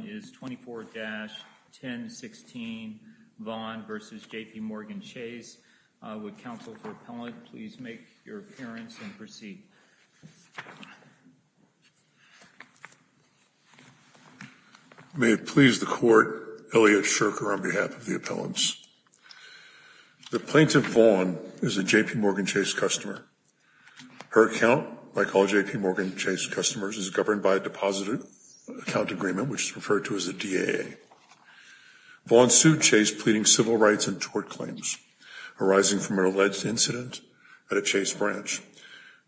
The plaintiff's name is 24-1016 Vaughn v. JP Morgan Chase. Would counsel for appellant please make your appearance and proceed. May it please the court, Elliot Shurker on behalf of the appellants. The plaintiff, Vaughn, is a JP Morgan Chase customer. Her account, like all JP Morgan Chase customers, is governed by a deposit account agreement, which is referred to as a DAA. Vaughn sued Chase pleading civil rights and tort claims arising from an alleged incident at a Chase branch.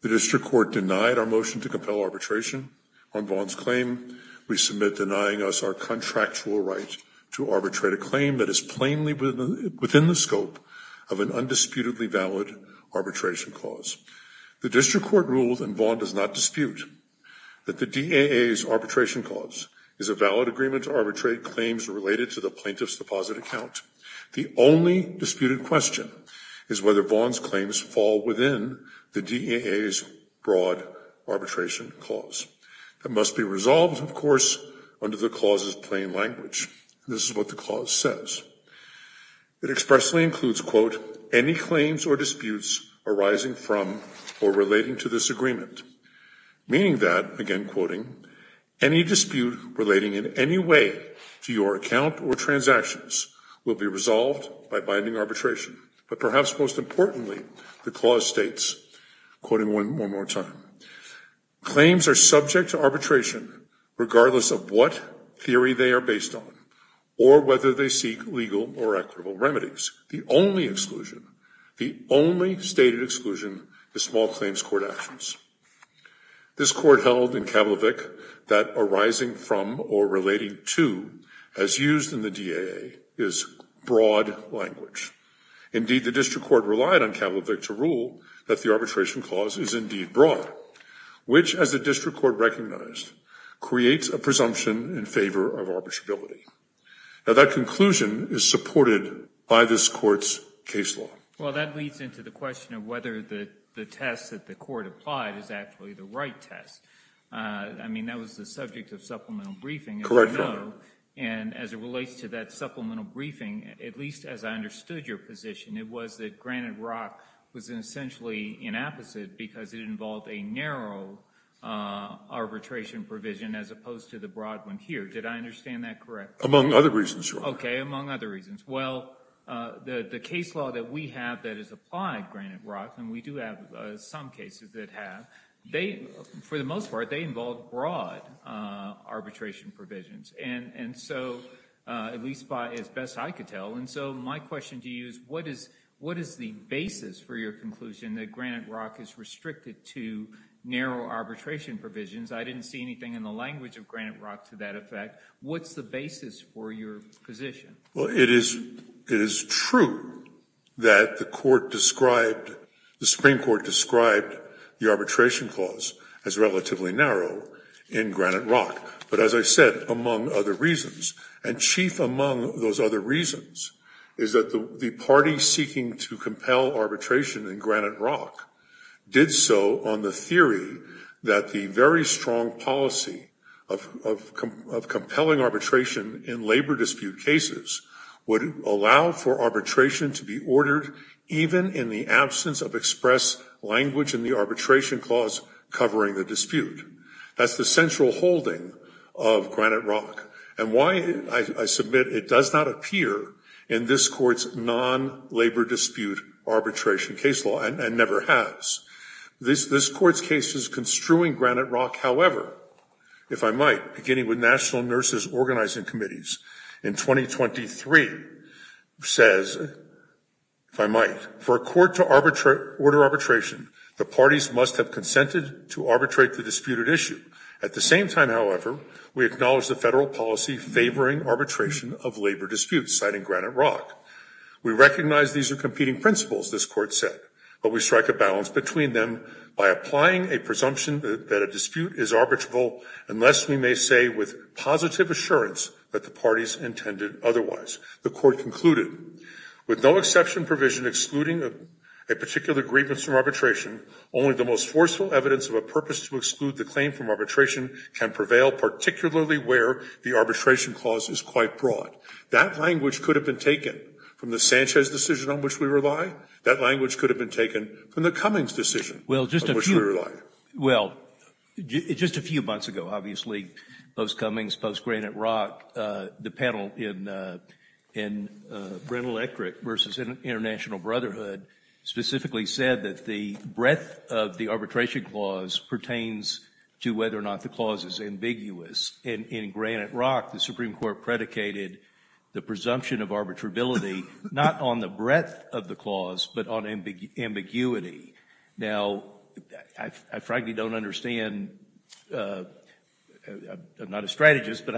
The district court denied our motion to compel arbitration on Vaughn's claim. We submit denying us our contractual right to arbitrate a claim that is plainly within the scope of an undisputedly valid arbitration clause. The district court ruled, and Vaughn does not dispute, that the DAA's arbitration clause is a valid agreement to arbitrate claims related to the plaintiff's deposit account. The only disputed question is whether Vaughn's claims fall within the DAA's broad arbitration clause. It must be resolved, of course, under the clause's plain language. This is what the clause says. It expressly includes, quote, any claims or disputes arising from or relating to this agreement, meaning that, again quoting, any dispute relating in any way to your account or transactions will be resolved by binding arbitration. But perhaps most importantly, the clause states, quoting one more time, Claims are subject to arbitration regardless of what theory they are based on or whether they seek legal or equitable remedies. The only exclusion, the only stated exclusion, is small claims court actions. This court held in Kavlovic that arising from or relating to, as used in the DAA, is broad language. Indeed, the district court relied on Kavlovic to rule that the arbitration clause is indeed broad, which, as the district court recognized, creates a presumption in favor of arbitrability. Now, that conclusion is supported by this court's case law. Well, that leads into the question of whether the test that the court applied is actually the right test. I mean, that was the subject of supplemental briefing. Correct, Your Honor. And as it relates to that supplemental briefing, at least as I understood your position, it was that Granite Rock was essentially an apposite because it involved a narrow arbitration provision as opposed to the broad one here. Did I understand that correctly? Among other reasons, Your Honor. Okay, among other reasons. Well, the case law that we have that is applied, Granite Rock, and we do have some cases that have, for the most part, they involve broad arbitration provisions. And so, at least as best I could tell, and so my question to you is what is the basis for your conclusion that Granite Rock is restricted to narrow arbitration provisions? I didn't see anything in the language of Granite Rock to that effect. What's the basis for your position? Well, it is true that the Supreme Court described the arbitration clause as relatively narrow in Granite Rock. But as I said, among other reasons, and chief among those other reasons, is that the party seeking to compel arbitration in Granite Rock did so on the theory that the very strong policy of compelling arbitration in labor dispute cases would allow for arbitration to be ordered even in the absence of express language in the arbitration clause covering the dispute. That's the central holding of Granite Rock. And why, I submit, it does not appear in this Court's non-labor dispute arbitration case law and never has. This Court's case is construing Granite Rock, however, if I might, beginning with National Nurses Organizing Committees in 2023, says, if I might, for a court to order arbitration, the parties must have consented to arbitrate the disputed issue. At the same time, however, we acknowledge the federal policy favoring arbitration of labor disputes, citing Granite Rock. We recognize these are competing principles, this Court said, but we strike a balance between them by applying a presumption that a dispute is arbitrable unless we may say with positive assurance that the parties intended otherwise. The Court concluded, with no exception provision excluding a particular grievance from arbitration, only the most forceful evidence of a purpose to exclude the claim from arbitration can prevail, particularly where the arbitration clause is quite broad. That language could have been taken from the Sanchez decision on which we rely. That language could have been taken from the Cummings decision on which we rely. Well, just a few months ago, obviously, post-Cummings, post-Granite Rock, the panel in Brent Electric v. International Brotherhood specifically said that the breadth of the arbitration clause pertains to whether or not the clause is ambiguous. In Granite Rock, the Supreme Court predicated the presumption of arbitrability not on the breadth of the clause but on ambiguity. Now, I frankly don't understand, I'm not a strategist, but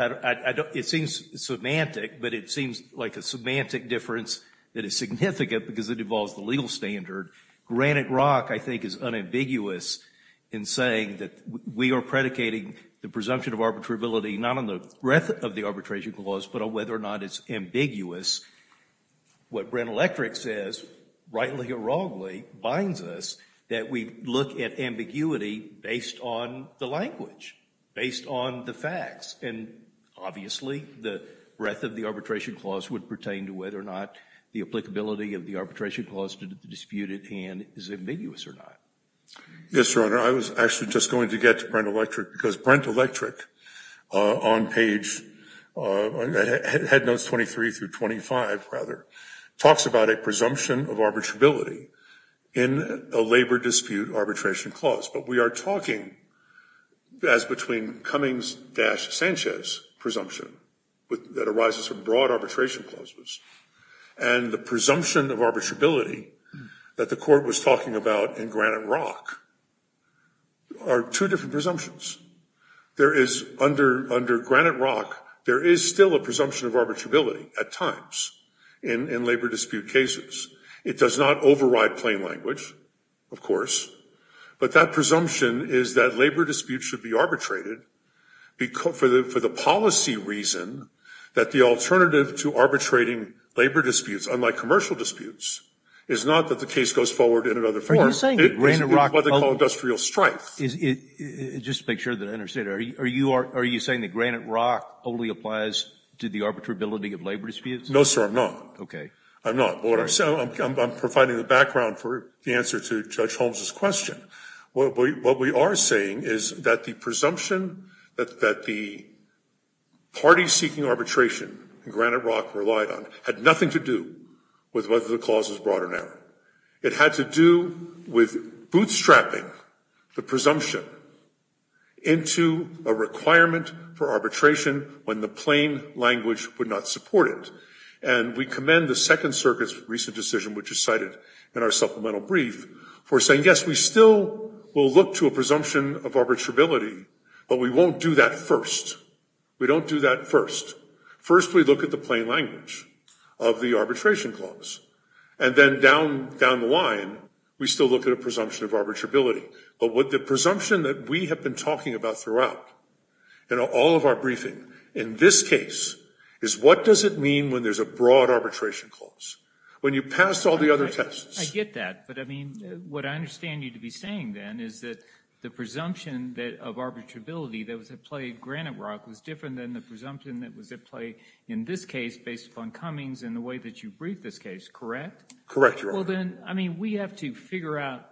it seems semantic, but it seems like a semantic difference that is significant because it involves the legal standard. Granite Rock, I think, is unambiguous in saying that we are predicating the presumption of arbitrability not on the breadth of the arbitration clause but on whether or not it's ambiguous. What Brent Electric says, rightly or wrongly, binds us that we look at ambiguity based on the language, based on the facts. And obviously, the breadth of the arbitration clause would pertain to whether or not the applicability of the arbitration clause to the disputed hand is ambiguous or not. Yes, Your Honor, I was actually just going to get to Brent Electric because Brent Electric on page, Head Notes 23 through 25, rather, talks about a presumption of arbitrability in a labor dispute arbitration clause. But we are talking as between Cummings-Sanchez presumption that arises from broad arbitration clauses and the presumption of arbitrability that the Court was talking about in Granite Rock are two different presumptions. Under Granite Rock, there is still a presumption of arbitrability at times in labor dispute cases. It does not override plain language, of course, but that presumption is that the policy reason that the alternative to arbitrating labor disputes, unlike commercial disputes, is not that the case goes forward in another form. It's what they call industrial strife. Just to make sure that I understand, are you saying that Granite Rock only applies to the arbitrability of labor disputes? No, sir, I'm not. Okay. I'm not. I'm providing the background for the answer to Judge Holmes' question. What we are saying is that the presumption that the party seeking arbitration in Granite Rock relied on had nothing to do with whether the clause was broad or narrow. It had to do with bootstrapping the presumption into a requirement for arbitration when the plain language would not support it. And we commend the Second Circuit's recent decision, which is cited in our supplemental brief, for saying, yes, we still will look to a presumption of arbitrability, but we won't do that first. We don't do that first. First, we look at the plain language of the arbitration clause. And then down the line, we still look at a presumption of arbitrability. But the presumption that we have been talking about throughout in all of our briefing in this case is what does it mean when there's a broad arbitration clause? When you pass all the other tests. I get that. But, I mean, what I understand you to be saying, then, is that the presumption of arbitrability that was at play in Granite Rock was different than the presumption that was at play in this case based upon Cummings and the way that you briefed this case, correct? Correct, Your Honor. Well, then, I mean, we have to figure out,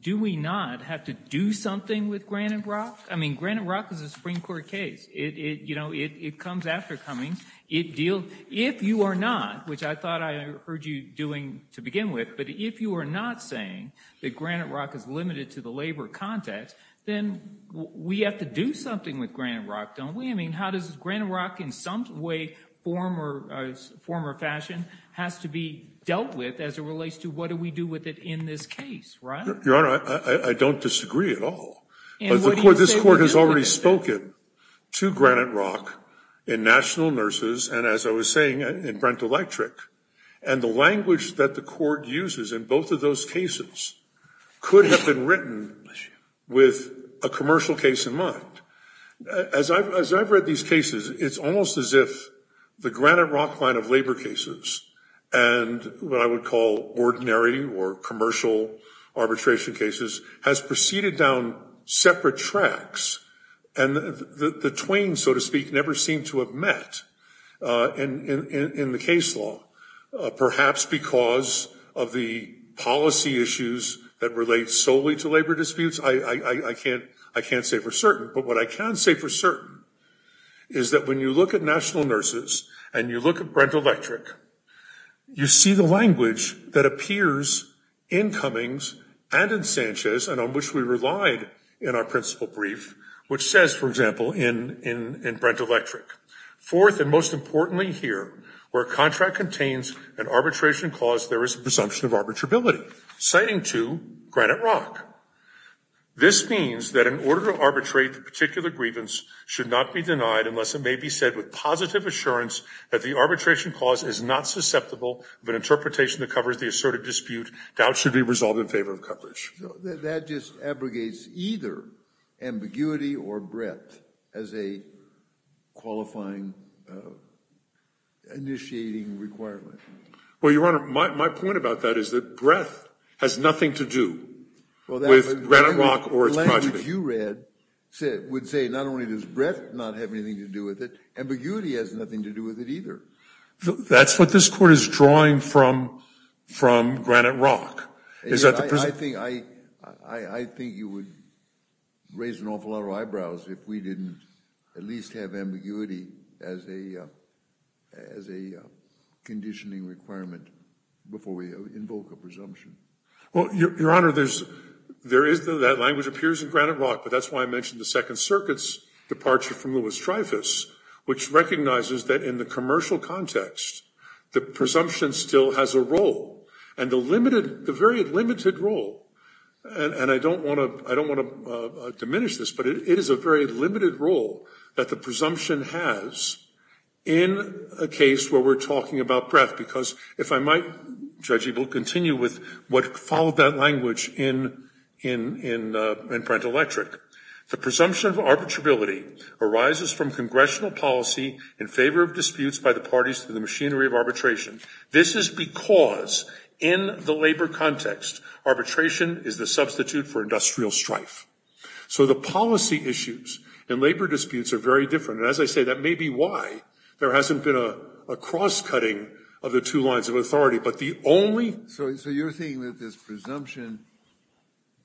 do we not have to do something with Granite Rock? I mean, Granite Rock is a Supreme Court case. It comes after Cummings. If you are not, which I thought I heard you doing to begin with, but if you are not saying that Granite Rock is limited to the labor context, then we have to do something with Granite Rock, don't we? I mean, how does Granite Rock, in some way, form or fashion, has to be dealt with as it relates to what do we do with it in this case, right? Your Honor, I don't disagree at all. This Court has already spoken to Granite Rock in National Nurses and, as I was saying, in Brent Electric. And the language that the Court uses in both of those cases could have been written with a commercial case in mind. As I've read these cases, it's almost as if the Granite Rock line of labor cases and what I would call ordinary or commercial arbitration cases has proceeded down separate tracks and the twain, so to speak, never seemed to have met in the case law, perhaps because of the policy issues that relate solely to labor disputes. I can't say for certain, but what I can say for certain is that when you look at National Nurses and you look at Brent Electric, you see the language that appears in Cummings and in Sanchez and on which we Fourth, and most importantly here, where a contract contains an arbitration cause, there is a presumption of arbitrability, citing to Granite Rock. This means that in order to arbitrate the particular grievance should not be denied unless it may be said with positive assurance that the arbitration cause is not susceptible of an interpretation that covers the asserted dispute. Doubt should be resolved in favor of coverage. That just abrogates either ambiguity or breadth as a qualifying initiating requirement. Well, Your Honor, my point about that is that breadth has nothing to do with Granite Rock or its project. The language you read would say not only does breadth not have anything to do with it, ambiguity has nothing to do with it either. That's what this court is drawing from Granite Rock. I think you would raise an awful lot of eyebrows if we didn't at least have ambiguity as a conditioning requirement before we invoke a presumption. Well, Your Honor, that language appears in Granite Rock, but that's why I mentioned the Second Circuit's departure from Louis Trifas, which recognizes that in the commercial context the presumption still has a role and the presumption has a very limited role. And I don't want to diminish this, but it is a very limited role that the presumption has in a case where we're talking about breadth. Because if I might, Judge Ebel, continue with what followed that language in Prentelectric. The presumption of arbitrability arises from congressional policy in favor of disputes by the parties to the machinery of arbitration. This is because in the labor context arbitration is the substitute for industrial strife. So the policy issues in labor disputes are very different. And as I say, that may be why there hasn't been a cross-cutting of the two lines of authority. But the only... So you're thinking that this presumption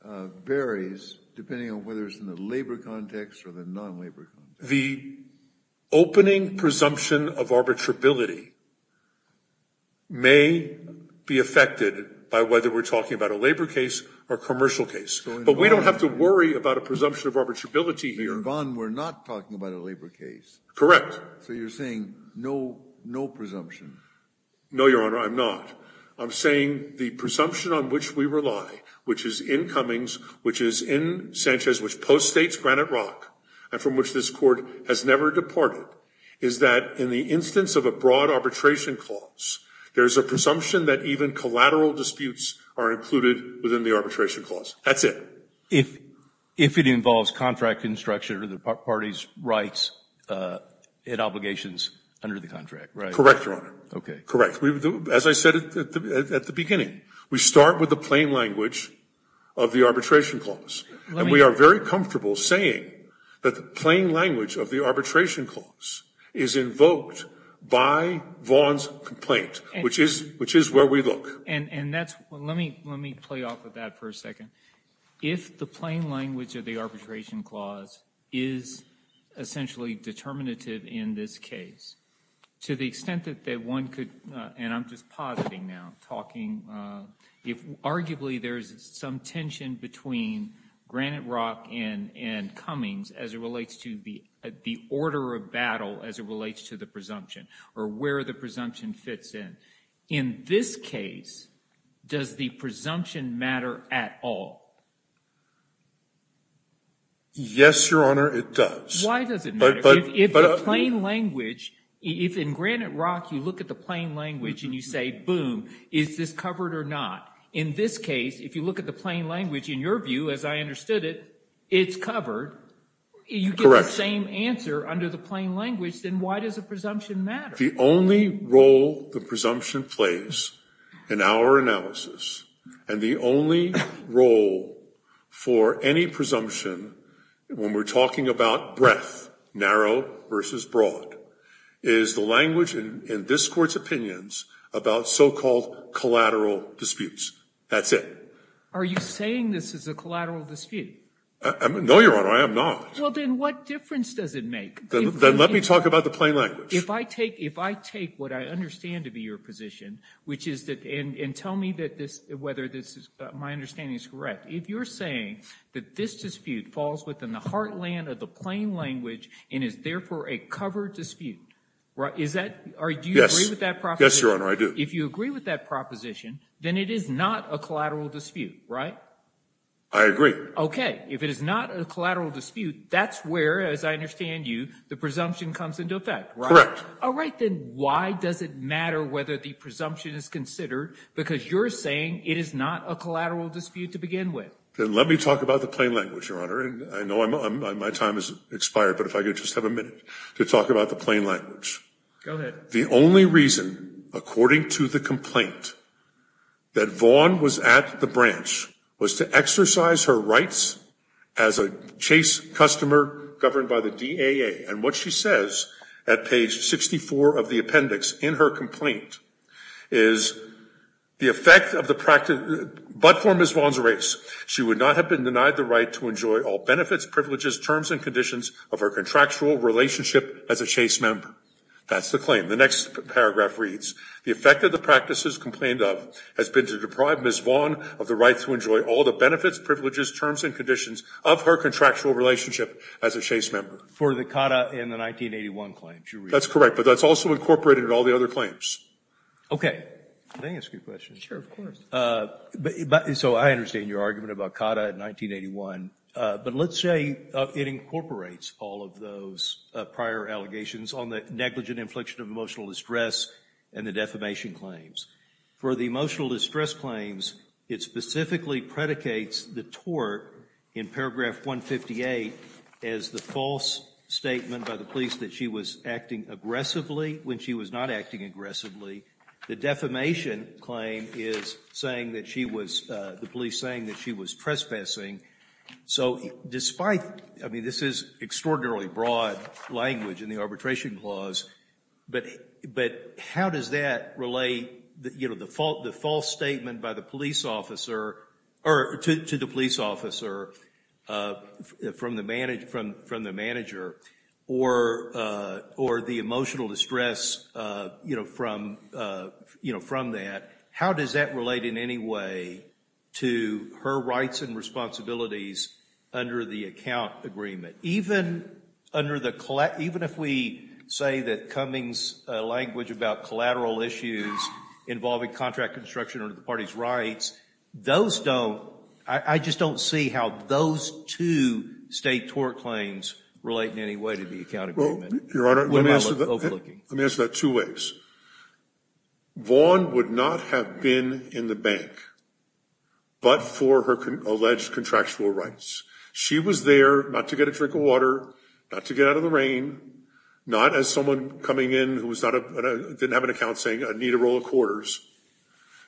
varies depending on whether it's in the labor context or the non-labor context. The opening presumption of arbitrability may be affected by whether we're talking about a labor case or a commercial case. But we don't have to worry about a presumption of arbitrability here. Your Honor, we're not talking about a labor case. Correct. So you're saying no presumption. No, Your Honor, I'm not. I'm saying the presumption on which we rely, which is in Cummings, which is in the labor context, but which the court has never deported, is that in the instance of a broad arbitration clause, there is a presumption that even collateral disputes are included within the arbitration clause. That's it. If it involves contract construction of the parties' rights and obligations under the contract, right? Correct, Your Honor. Okay. Correct. As I said at the beginning, we start with the plain language of the arbitration clause. And we are very comfortable saying that the plain language of the arbitration clause is invoked by Vaughn's complaint, which is where we look. And that's – let me play off of that for a second. If the plain language of the arbitration clause is essentially determinative in this case, to the extent that one could – and I'm just positing now, talking – arguably there's some tension between Granite Rock and Cummings as it relates to the order of battle as it relates to the presumption or where the presumption fits in. In this case, does the presumption matter at all? Yes, Your Honor, it does. Why does it matter? If the plain language – if in Granite Rock you look at the plain language and you say, boom, is this covered or not? In this case, if you look at the plain language, in your view, as I understood it, it's covered. Correct. You get the same answer under the plain language. Then why does the presumption matter? The only role the presumption plays in our analysis and the only role for any presumption when we're talking about breadth, narrow versus broad, is the presumption about so-called collateral disputes. That's it. Are you saying this is a collateral dispute? No, Your Honor, I am not. Well, then what difference does it make? Then let me talk about the plain language. If I take – if I take what I understand to be your position, which is that – and tell me that this – whether this is – my understanding is correct. If you're saying that this dispute falls within the heartland of the plain language and is therefore a covered dispute, is that – do you agree with that proposition? Yes, Your Honor, I do. If you agree with that proposition, then it is not a collateral dispute, right? I agree. Okay. If it is not a collateral dispute, that's where, as I understand you, the presumption comes into effect, right? Correct. All right. Then why does it matter whether the presumption is considered because you're saying it is not a collateral dispute to begin with? Then let me talk about the plain language, Your Honor. And I know I'm – my time has expired, but if I could just have a minute to talk about the plain language. Go ahead. The only reason, according to the complaint, that Vaughn was at the branch was to exercise her rights as a Chase customer governed by the DAA. And what she says at page 64 of the appendix in her complaint is the effect of the – but for Ms. Vaughn's race, she would not have been denied the right to enjoy all benefits, privileges, terms, and conditions of her contractual relationship as a Chase member. That's the claim. The next paragraph reads, the effect of the practices complained of has been to deprive Ms. Vaughn of the right to enjoy all the benefits, privileges, terms, and conditions of her contractual relationship as a Chase member. For the CATA and the 1981 claims, you read. That's correct. But that's also incorporated in all the other claims. Okay. May I ask you a question? Sure, of course. So I understand your argument about CATA and 1981, but let's say it incorporates all of those prior allegations on the negligent infliction of emotional distress and the defamation claims. For the emotional distress claims, it specifically predicates the tort in paragraph 158 as the false statement by the police that she was acting aggressively when she was not acting aggressively. The defamation claim is saying that she was – the police saying that she was trespassing. So despite – I mean, this is extraordinarily broad language in the arbitration clause, but how does that relate, you know, the false statement by the police officer or to the police officer from the manager or the emotional distress, you know, from that? How does that relate in any way to her rights and responsibilities under the account agreement? Even under the – even if we say that Cummings' language about collateral issues involving contract construction under the party's rights, those don't – I just don't see how those two state tort claims relate in any way to the account agreement. Well, Your Honor, let me answer that two ways. Vaughn would not have been in the bank but for her alleged contractual rights. She was there not to get a drink of water, not to get out of the rain, not as someone coming in who was not – didn't have an account saying I need a roll of quarters.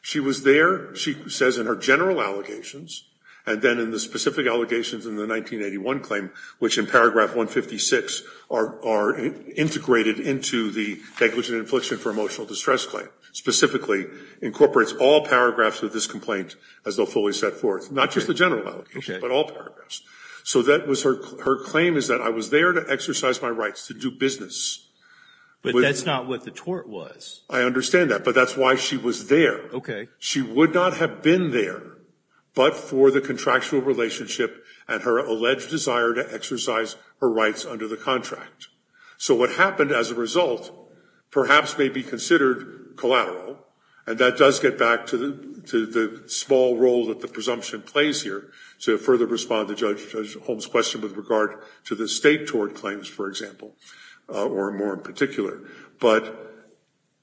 She was there, she says in her general allegations, and then in the specific allegations in the 1981 claim, which in paragraph 156 are integrated into the language and infliction for emotional distress claim, specifically incorporates all paragraphs of this complaint as though fully set forth, not just the general allegations, but all paragraphs. So that was her – her claim is that I was there to exercise my rights to do business. But that's not what the tort was. I understand that, but that's why she was there. Okay. She would not have been there but for the contractual relationship and her alleged desire to exercise her rights under the contract. So what happened as a result perhaps may be considered collateral and that does get back to the – to the small role that the presumption plays here to further respond to Judge Holmes' question with regard to the state tort claims, for example, or more in particular. But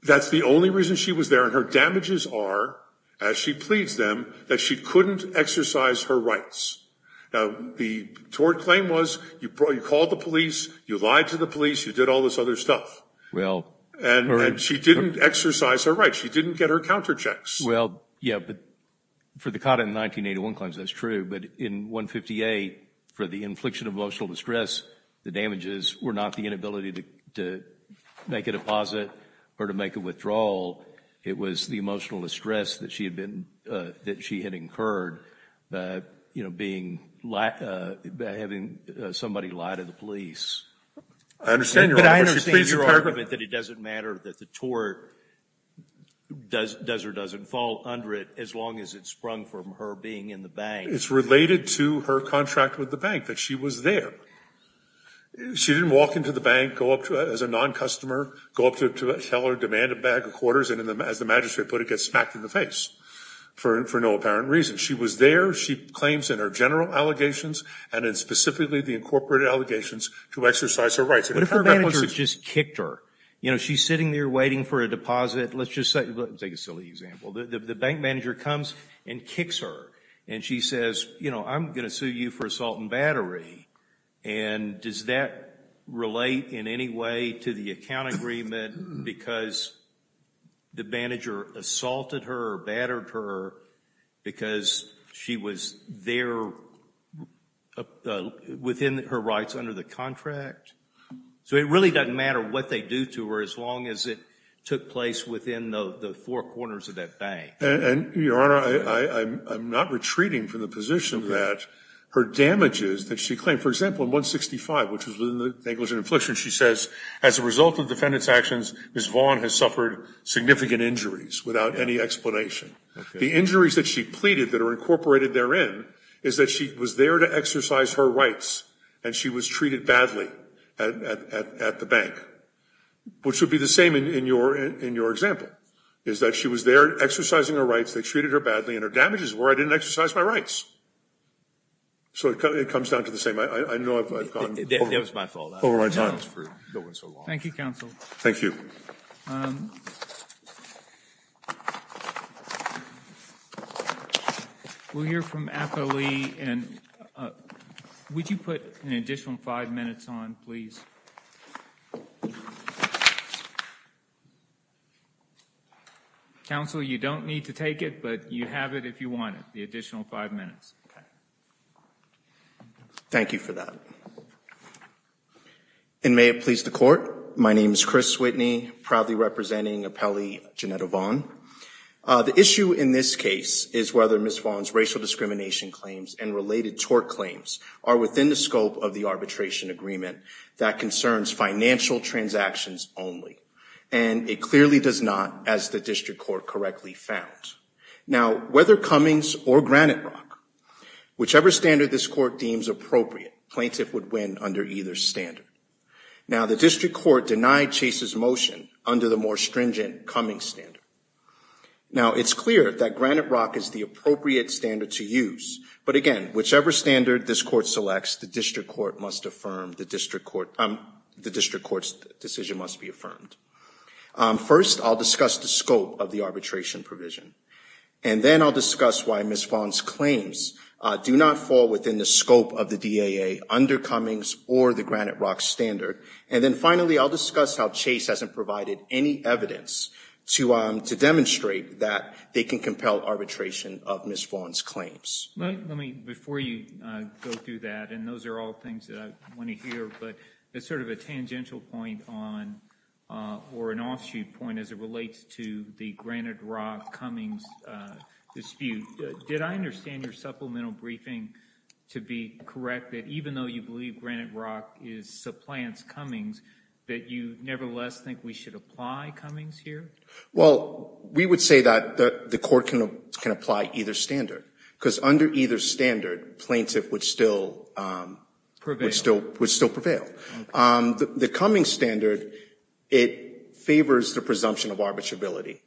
that's the only reason she was there and her damages are, as she pleads them, that she couldn't exercise her rights. Now, the tort claim was you called the police, you lied to the police, you did all this other stuff. Well – And she didn't exercise her rights. She didn't get her counterchecks. Well, yeah, but for the COTA in 1981 claims, that's true. But in 158, for the infliction of emotional distress, the damages were not the inability to make a deposit or to make a withdrawal. It was the emotional distress that she had been – that she had incurred, you know, being – having somebody lie to the police. I understand your argument. But I understand your argument that it doesn't matter that the tort does or doesn't fall under it as long as it sprung from her being in the bank. It's related to her contract with the bank, that she was there. She didn't walk into the bank, go up to it as a non-customer, go up to it to tell her demand a bag of quarters, and as the magistrate put it, get smacked in the face for no apparent reason. She was there. She claims in her general allegations and in specifically the incorporated allegations to exercise her rights. What if her manager just kicked her? You know, she's sitting there waiting for a deposit. Let's just say – let me take a silly example. The bank manager comes and kicks her. And she says, you know, I'm going to sue you for assault and battery. And does that relate in any way to the account agreement because the manager assaulted her or battered her because she was there within her rights under the contract? So it really doesn't matter what they do to her as long as it took place within the four corners of that bank. And, Your Honor, I'm not retreating from the position that her damages that she claimed. For example, in 165, which was within the negligent infliction, she says, as a result of defendant's actions, Ms. Vaughn has suffered significant injuries without any explanation. The injuries that she pleaded that are incorporated therein is that she was there to exercise her rights, and she was treated badly at the bank, which would be the same in your example, is that she was there exercising her They treated her badly, and her damages were I didn't exercise my rights. So it comes down to the same. I know I've gone over my time. Thank you, Counsel. Thank you. We'll hear from Apolli. And would you put an additional five minutes on, please? Counsel, you don't need to take it, but you have it if you want it, the additional five minutes. Thank you for that. And may it please the Court, my name is Chris Whitney, proudly representing Apolli Janetta Vaughn. The issue in this case is whether Ms. Vaughn's racial discrimination claims and related tort claims are within the scope of the arbitration agreement that concerns financial transactions only. And it clearly does not, as the district court correctly found. Now, whether Cummings or Granite Rock, whichever standard this court deems appropriate, plaintiff would win under either standard. Now, the district court denied Chase's motion under the more stringent Cummings standard. Now, it's clear that Granite Rock is the appropriate standard to use, but again, whichever standard this court selects, the district court's decision must be affirmed. First, I'll discuss the scope of the arbitration provision, and then I'll discuss why Ms. Vaughn's claims do not fall within the scope of the DAA under Cummings or the Granite Rock standard. And then finally, I'll discuss how Chase hasn't provided any evidence to demonstrate that they can compel arbitration of Ms. Vaughn's claims. Let me, before you go through that, and those are all things that I want to hear, but it's sort of a tangential point or an offshoot point as it relates to the Granite Rock-Cummings dispute. Did I understand your supplemental briefing to be correct that even though you believe Granite Rock supplants Cummings, that you nevertheless think we should apply Cummings here? Well, we would say that the court can apply either standard because under either standard, plaintiff would still prevail. The Cummings standard, it favors the presumption of arbitrability,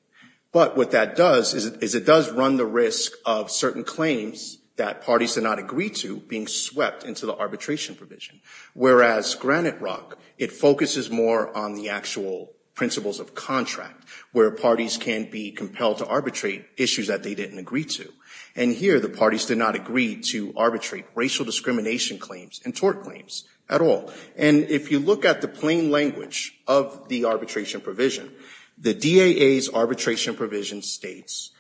but what that does is it does run the risk of certain claims that parties did not agree to being swept into the arbitration provision, whereas Granite Rock, it focuses more on the actual principles of contract where parties can be compelled to arbitrate issues that they didn't agree to. And here, the parties did not agree to arbitrate racial discrimination claims and tort claims at all. And if you look at the plain language of the arbitration provision, the DAA's arbitration provision states,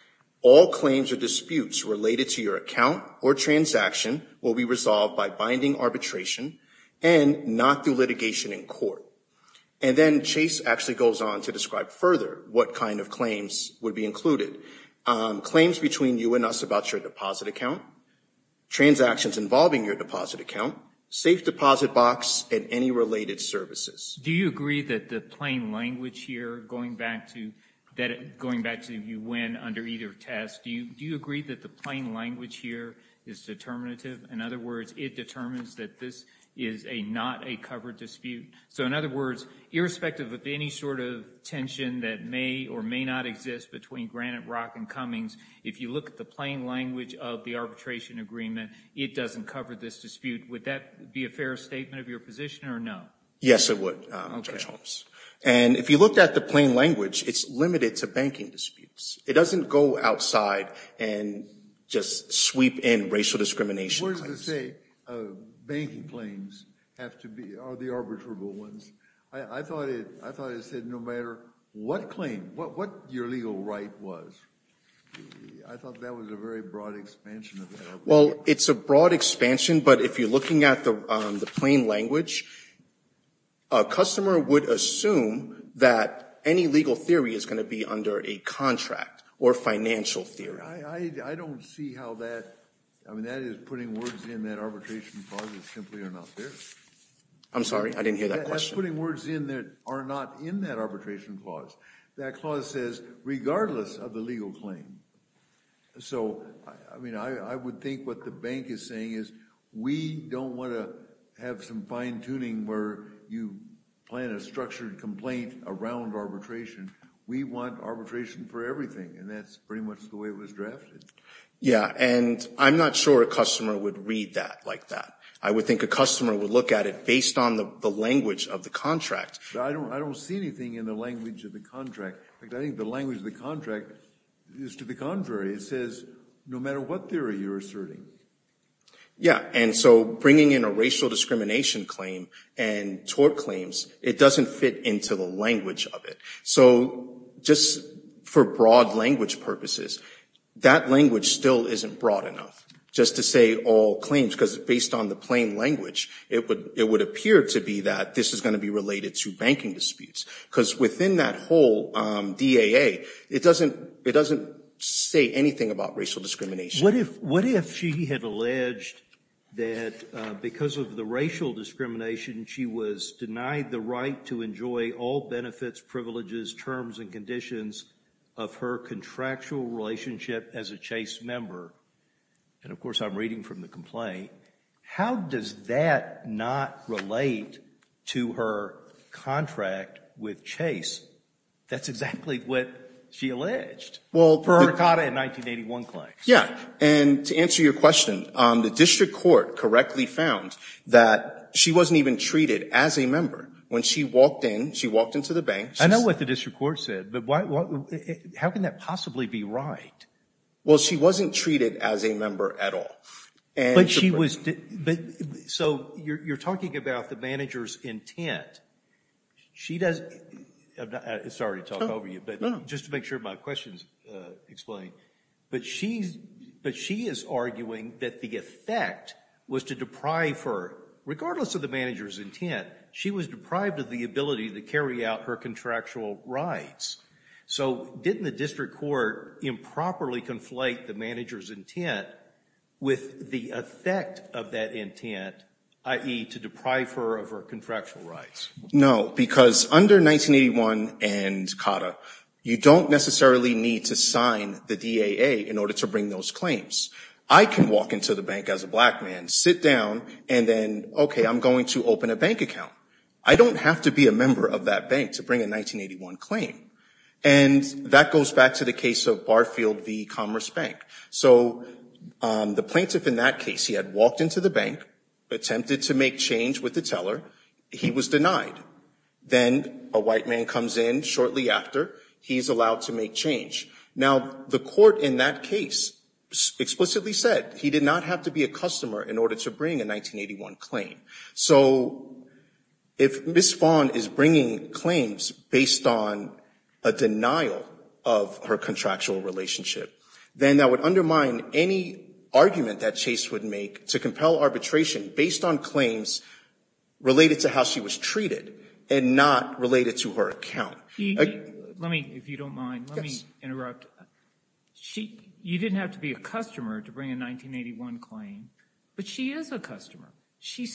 all claims or disputes related to your account or transaction will be resolved by binding arbitration and not through litigation in court. And then Chase actually goes on to describe further what kind of claims would be included. Claims between you and us about your deposit account, transactions involving your deposit account, safe deposit box, and any related services. Do you agree that the plain language here, going back to when under either test, do you agree that the plain language here is determinative? In other words, it determines that this is not a covered dispute. So in other words, irrespective of any sort of tension that may or may not exist between Granite Rock and Cummings, if you look at the plain language of the arbitration agreement, it doesn't cover this dispute. Would that be a fair statement of your position or no? Yes, it would, Judge Holmes. And if you looked at the plain language, it's limited to banking disputes. It doesn't go outside and just sweep in racial discrimination claims. Words that say banking claims are the arbitrable ones. I thought it said no matter what claim, what your legal right was. I thought that was a very broad expansion of that argument. Well, it's a broad expansion, but if you're looking at the plain language, a customer would assume that any legal theory is going to be under a contract or financial theory. I don't see how that, I mean, that is putting words in that arbitration clause that simply are not there. I'm sorry, I didn't hear that question. That's putting words in that are not in that arbitration clause. That clause says regardless of the legal claim. So, I mean, I would think what the bank is saying is we don't want to have some fine-tuning where you plan a structured complaint around arbitration. We want arbitration for everything, and that's pretty much the way it was drafted. Yeah, and I'm not sure a customer would read that like that. I would think a customer would look at it based on the language of the contract. I don't see anything in the language of the contract. I think the language of the contract is to the contrary. It says no matter what theory you're asserting. Yeah, and so bringing in a racial discrimination claim and tort claims, it doesn't fit into the language of it. So, just for broad language purposes, that language still isn't broad enough, just to say all claims, because based on the plain language, it would appear to be that this is going to be related to banking disputes, because within that whole DAA, it doesn't say anything about racial discrimination. What if she had alleged that because of the racial discrimination, she was denied the right to enjoy all benefits, privileges, terms, and conditions of her contractual relationship as a Chase member? And, of course, I'm reading from the complaint. How does that not relate to her contract with Chase? That's exactly what she alleged for her Dakota in 1981 claims. Yeah, and to answer your question, the district court correctly found that she wasn't even treated as a member. When she walked in, she walked into the bank. I know what the district court said, but how can that possibly be right? Well, she wasn't treated as a member at all. But she was... So you're talking about the manager's intent. She does... Sorry to talk over you, but just to make sure my question is explained. But she is arguing that the effect was to deprive her, regardless of the manager's intent, she was deprived of the ability to carry out her contractual rights. So didn't the district court improperly conflate the manager's intent with the effect of that intent, i.e., to deprive her of her contractual rights? No, because under 1981 and COTA, you don't necessarily need to sign the DAA in order to bring those claims. I can walk into the bank as a black man, sit down, and then, okay, I'm going to open a bank account. I don't have to be a member of that bank to bring a 1981 claim. And that goes back to the case of Barfield v. Commerce Bank. So the plaintiff in that case, he had walked into the bank, attempted to make change with the teller. He was denied. Then a white man comes in shortly after. He's allowed to make change. Now, the court in that case explicitly said he did not have to be a customer in order to bring a 1981 claim. So if Ms. Fawn is bringing claims based on a denial of her contractual relationship, then that would undermine any argument that Chase would make to compel arbitration based on claims related to how she was treated and not related to her account. Let me, if you don't mind, let me interrupt. You didn't have to be a customer to bring a 1981 claim, but she is a customer. She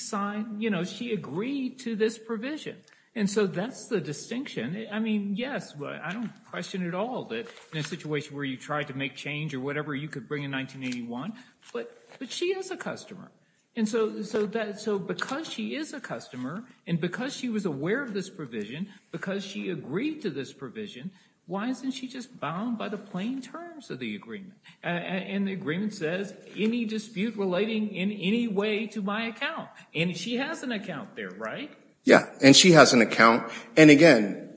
agreed to this provision. And so that's the distinction. I mean, yes, I don't question at all that in a situation where you tried to make change or whatever you could bring in 1981, but she is a customer. And so because she is a customer and because she was aware of this provision, because she agreed to this provision, why isn't she just bound by the plain terms of the agreement? And the agreement says, any dispute relating in any way to my account. And she has an account there, right? Yeah, and she has an account. And again,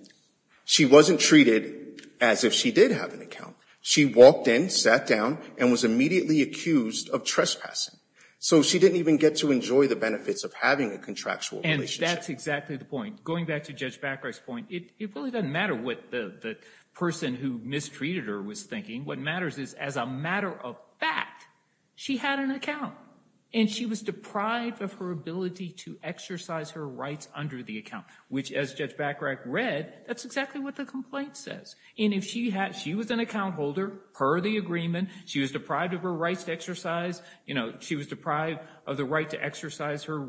she wasn't treated as if she did have an account. She walked in, sat down, and was immediately accused of trespassing. So she didn't even get to enjoy the benefits of having a contractual relationship. And that's exactly the point. Going back to Judge Backreich's point, it really doesn't matter what the person who mistreated her was thinking. What matters is as a matter of fact, she had an account. And she was deprived of her ability to exercise her rights under the account, which as Judge Backreich read, that's exactly what the complaint says. And if she was an account holder, per the agreement, she was deprived of her rights to exercise, she was deprived of the right to exercise her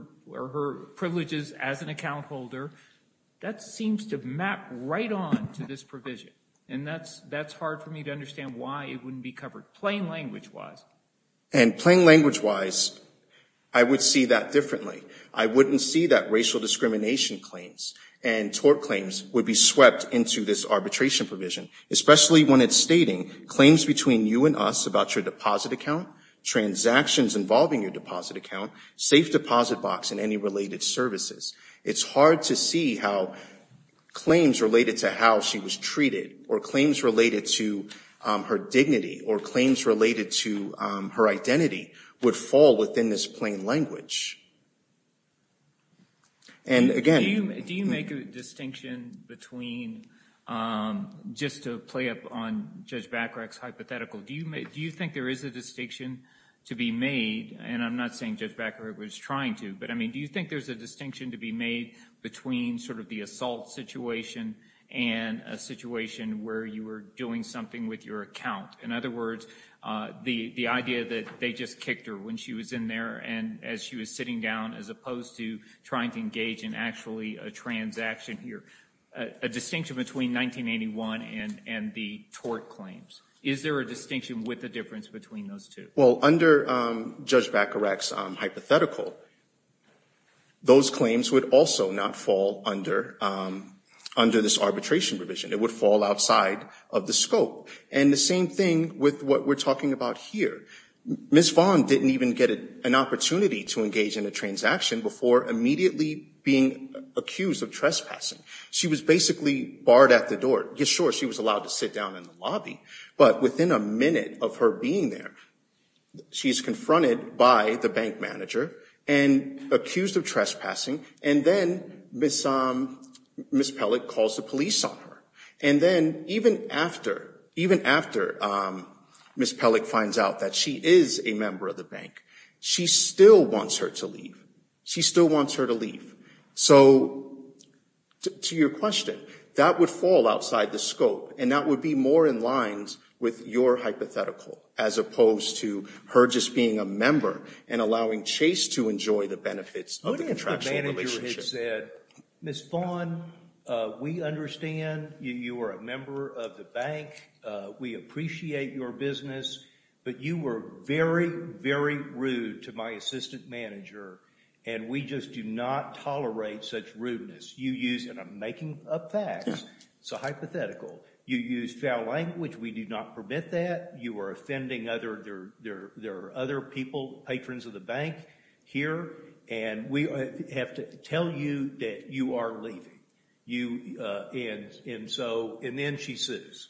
privileges as an account holder, that seems to map right on to this provision. And that's hard for me to understand why it wouldn't be covered plain language-wise. And plain language-wise, I would see that differently. I wouldn't see that racial discrimination claims and tort claims would be swept into this arbitration provision, especially when it's stating claims between you and us about your deposit account, transactions involving your deposit account, safe deposit box, and any related services. It's hard to see how claims related to how she was treated or claims related to her dignity or claims related to her identity would fall within this plain language. And again- Do you make a distinction between, just to play up on Judge Backreich's hypothetical, do you think there is a distinction to be made, and I'm not saying Judge Backreich was trying to, but do you think there's a distinction to be made between the assault situation and a situation where you were doing something with your account? In other words, the idea that they just kicked her when she was in there and as she was sitting down, as opposed to trying to engage in actually a transaction here. A distinction between 1981 and the tort claims. Is there a distinction with the difference between those two? Well, under Judge Backreich's hypothetical, those claims would also not fall under this arbitration provision. It would fall outside of the scope. And the same thing with what we're talking about here. Ms. Vaughn didn't even get an opportunity to engage in a transaction before immediately being accused of trespassing. She was basically barred at the door. Sure, she was allowed to sit down in the lobby, but within a minute of her being there, she's confronted by the bank manager and accused of trespassing, and then Ms. Pellett calls the police on her. And then even after Ms. Pellett finds out that she is a member of the bank, she still wants her to leave. She still wants her to leave. So, to your question, that would fall outside the scope, and that would be more in line with your hypothetical as opposed to her just being a member and allowing Chase to enjoy the benefits of the contractual relationship. Ms. Vaughn, we understand you are a member of the bank. We appreciate your business, but you were very, very rude to my assistant manager, and we just do not tolerate such rudeness. You use, and I'm making up facts, it's a hypothetical. You use foul language. We do not permit that. You are offending other, there are other people, patrons of the bank here, and we have to tell you that you are leaving. And so, and then she sues.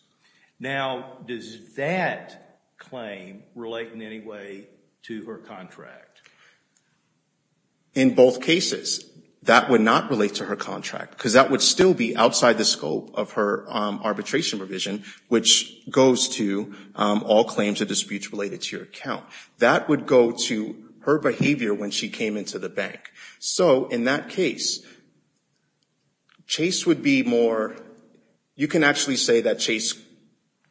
Now, does that claim relate in any way to her contract? In both cases, that would not relate to her contract, because that would still be outside the scope of her arbitration provision, which goes to all claims or disputes related to your account. That would go to her behavior when she came into the bank. So in that case, Chase would be more, you can actually say that Chase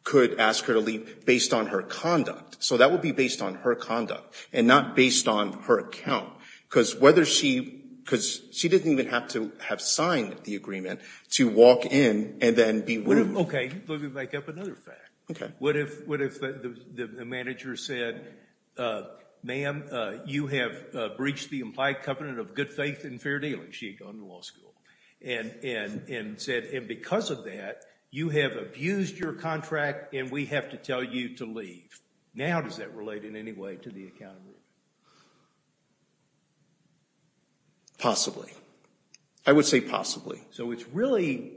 could ask her to leave based on her conduct. So that would be based on her conduct and not based on her account, because whether she, because she didn't even have to have signed the agreement to walk in and then be rude. Okay, let me make up another fact. Okay. What if the manager said, ma'am, you have breached the implied covenant of good faith and fair dealing. She had gone to law school. And said, and because of that, you have abused your contract and we have to tell you to leave. Now, does that relate in any way to the account? Possibly. I would say possibly. So it's really,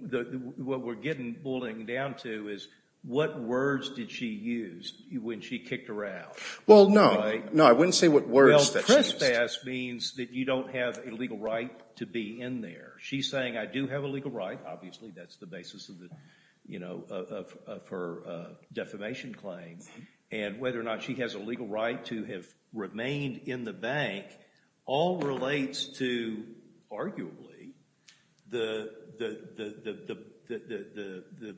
what we're getting, we're pulling down to is, what words did she use when she kicked her out? Well, no. No, I wouldn't say what words that she used. Well, trespass means that you don't have a legal right to be in there. She's saying, I do have a legal right. Obviously, that's the basis of her defamation claim. And whether or not she has a legal right to have remained in the bank all relates to, arguably, the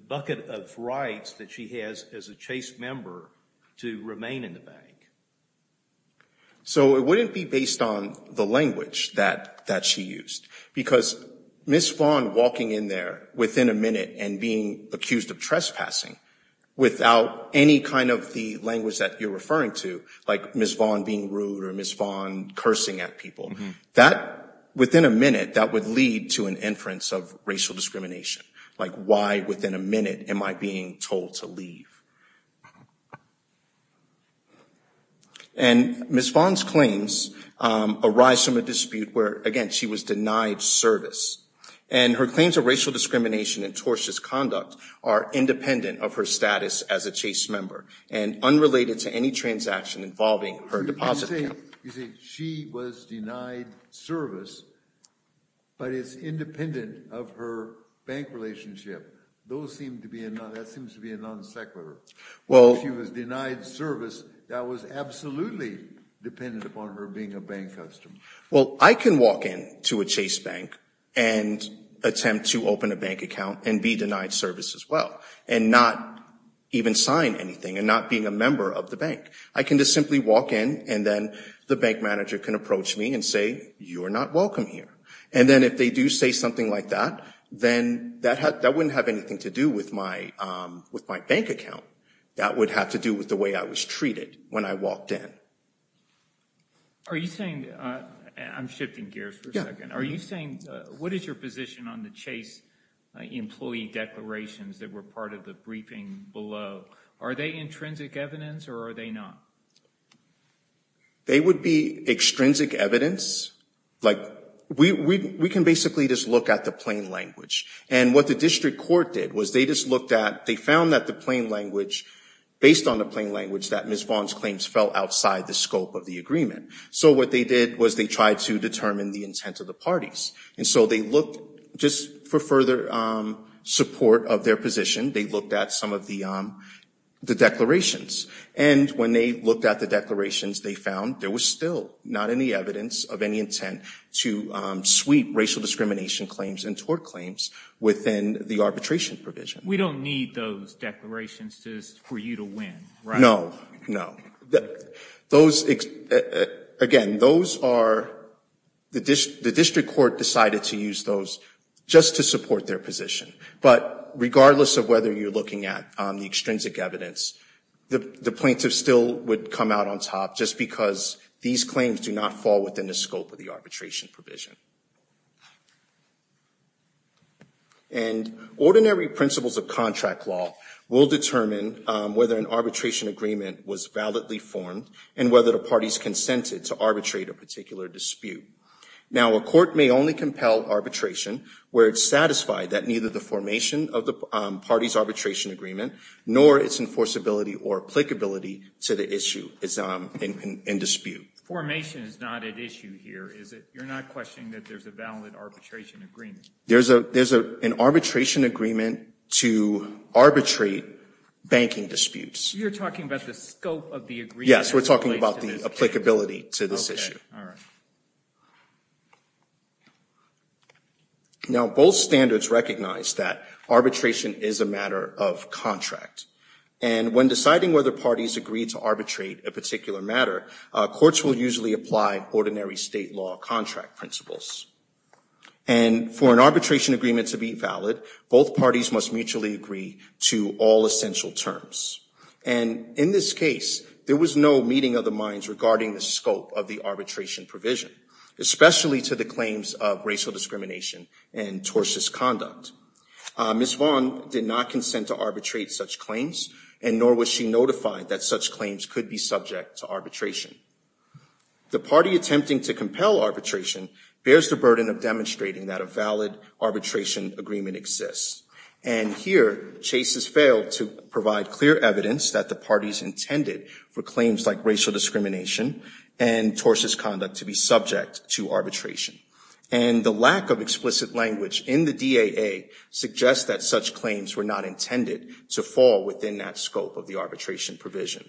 bucket of rights that she has as a Chase member to remain in the bank. So it wouldn't be based on the language that she used. Because Ms. Vaughn walking in there within a minute and being accused of trespassing without any kind of the language that you're referring to, like Ms. Vaughn being rude or Ms. Vaughn cursing at people, that, within a minute, that would lead to an inference of racial discrimination. Like, why, within a minute, am I being told to leave? And Ms. Vaughn's claims arise from a dispute where, again, she was denied service. And her claims of racial discrimination and tortious conduct are independent of her status as a Chase member and unrelated to any transaction involving her deposit account. You say she was denied service, but it's independent of her bank relationship. That seems to be a non sequitur. If she was denied service, that was absolutely dependent upon her being a bank customer. Well, I can walk in to a Chase bank and attempt to open a bank account and be denied service as well and not even sign anything and not being a member of the bank. I can just simply walk in and then the bank manager can approach me and say, you're not welcome here. And then if they do say something like that, then that wouldn't have anything to do with my bank account. That would have to do with the way I was treated when I walked in. Are you saying, I'm shifting gears for a second. Are you saying, what is your position on the Chase employee declarations that were part of the briefing below? Are they intrinsic evidence or are they not? They would be extrinsic evidence. Like, we can basically just look at the plain language. And what the district court did was they just looked at, they found that the plain language, based on the plain language, that Ms. Vaughn's claims fell outside the scope of the agreement. So what they did was they tried to determine the intent of the parties. And so they looked, just for further support of their position, they looked at some of the declarations. And when they looked at the declarations, they found there was still not any evidence of any intent to sweep racial discrimination claims and tort claims within the arbitration provision. We don't need those declarations for you to win, right? No, no. Those, again, those are, the district court decided to use those just to support their position. But regardless of whether you're looking at the extrinsic evidence, the plaintiff still would come out on top just because these claims do not fall within the scope of the arbitration provision. And ordinary principles of contract law will determine whether an arbitration agreement was validly formed and whether the parties consented to arbitrate a particular dispute. Now, a court may only compel arbitration where it's satisfied that neither the formation of the party's arbitration agreement nor its enforceability or applicability to the issue is in dispute. Formation is not at issue here, is it? You're not questioning that there's a valid arbitration agreement? There's an arbitration agreement to arbitrate banking disputes. You're talking about the scope of the agreement? Yes, we're talking about the applicability to this issue. Okay, all right. Now, both standards recognize that arbitration is a matter of contract. And when deciding whether parties agree to arbitrate a particular matter, courts will usually apply ordinary state law contract principles. And for an arbitration agreement to be valid, both parties must mutually agree to all essential terms. And in this case, there was no meeting of the minds regarding the scope of the arbitration provision, especially to the claims of racial discrimination and tortious conduct. Ms. Vaughn did not consent to arbitrate such claims, and nor was she notified that such claims could be subject to arbitration. The party attempting to compel arbitration bears the burden of demonstrating that a valid arbitration agreement exists. And here, Chase has failed to provide clear evidence that the parties intended for claims like racial discrimination and tortious conduct to be subject to arbitration. And the lack of explicit language in the DAA suggests that such claims were not intended to fall within that scope of the arbitration provision.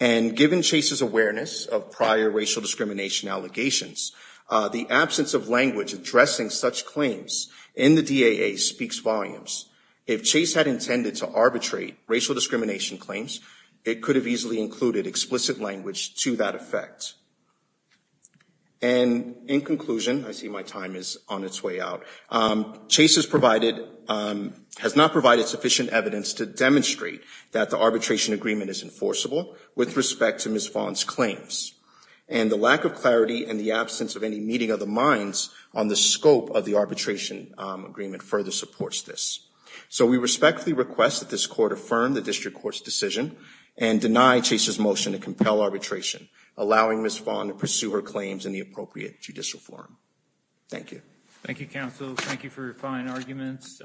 And given Chase's awareness of prior racial discrimination allegations, the absence of language addressing such claims in the DAA speaks volumes. If Chase had intended to arbitrate racial discrimination claims, it could have easily included explicit language to that effect. And in conclusion, I see my time is on its way out, Chase has not provided sufficient evidence to demonstrate that the arbitration agreement is enforceable with respect to Ms. Vaughn's claims. And the lack of clarity and the absence of any meeting of the minds on the scope of the arbitration agreement further supports this. So we respectfully request that this Court affirm the District Court's decision and deny Chase's motion to compel arbitration, allowing Ms. Vaughn to pursue her claims in the appropriate judicial forum. Thank you. Thank you, Counsel. Thank you for your fine arguments.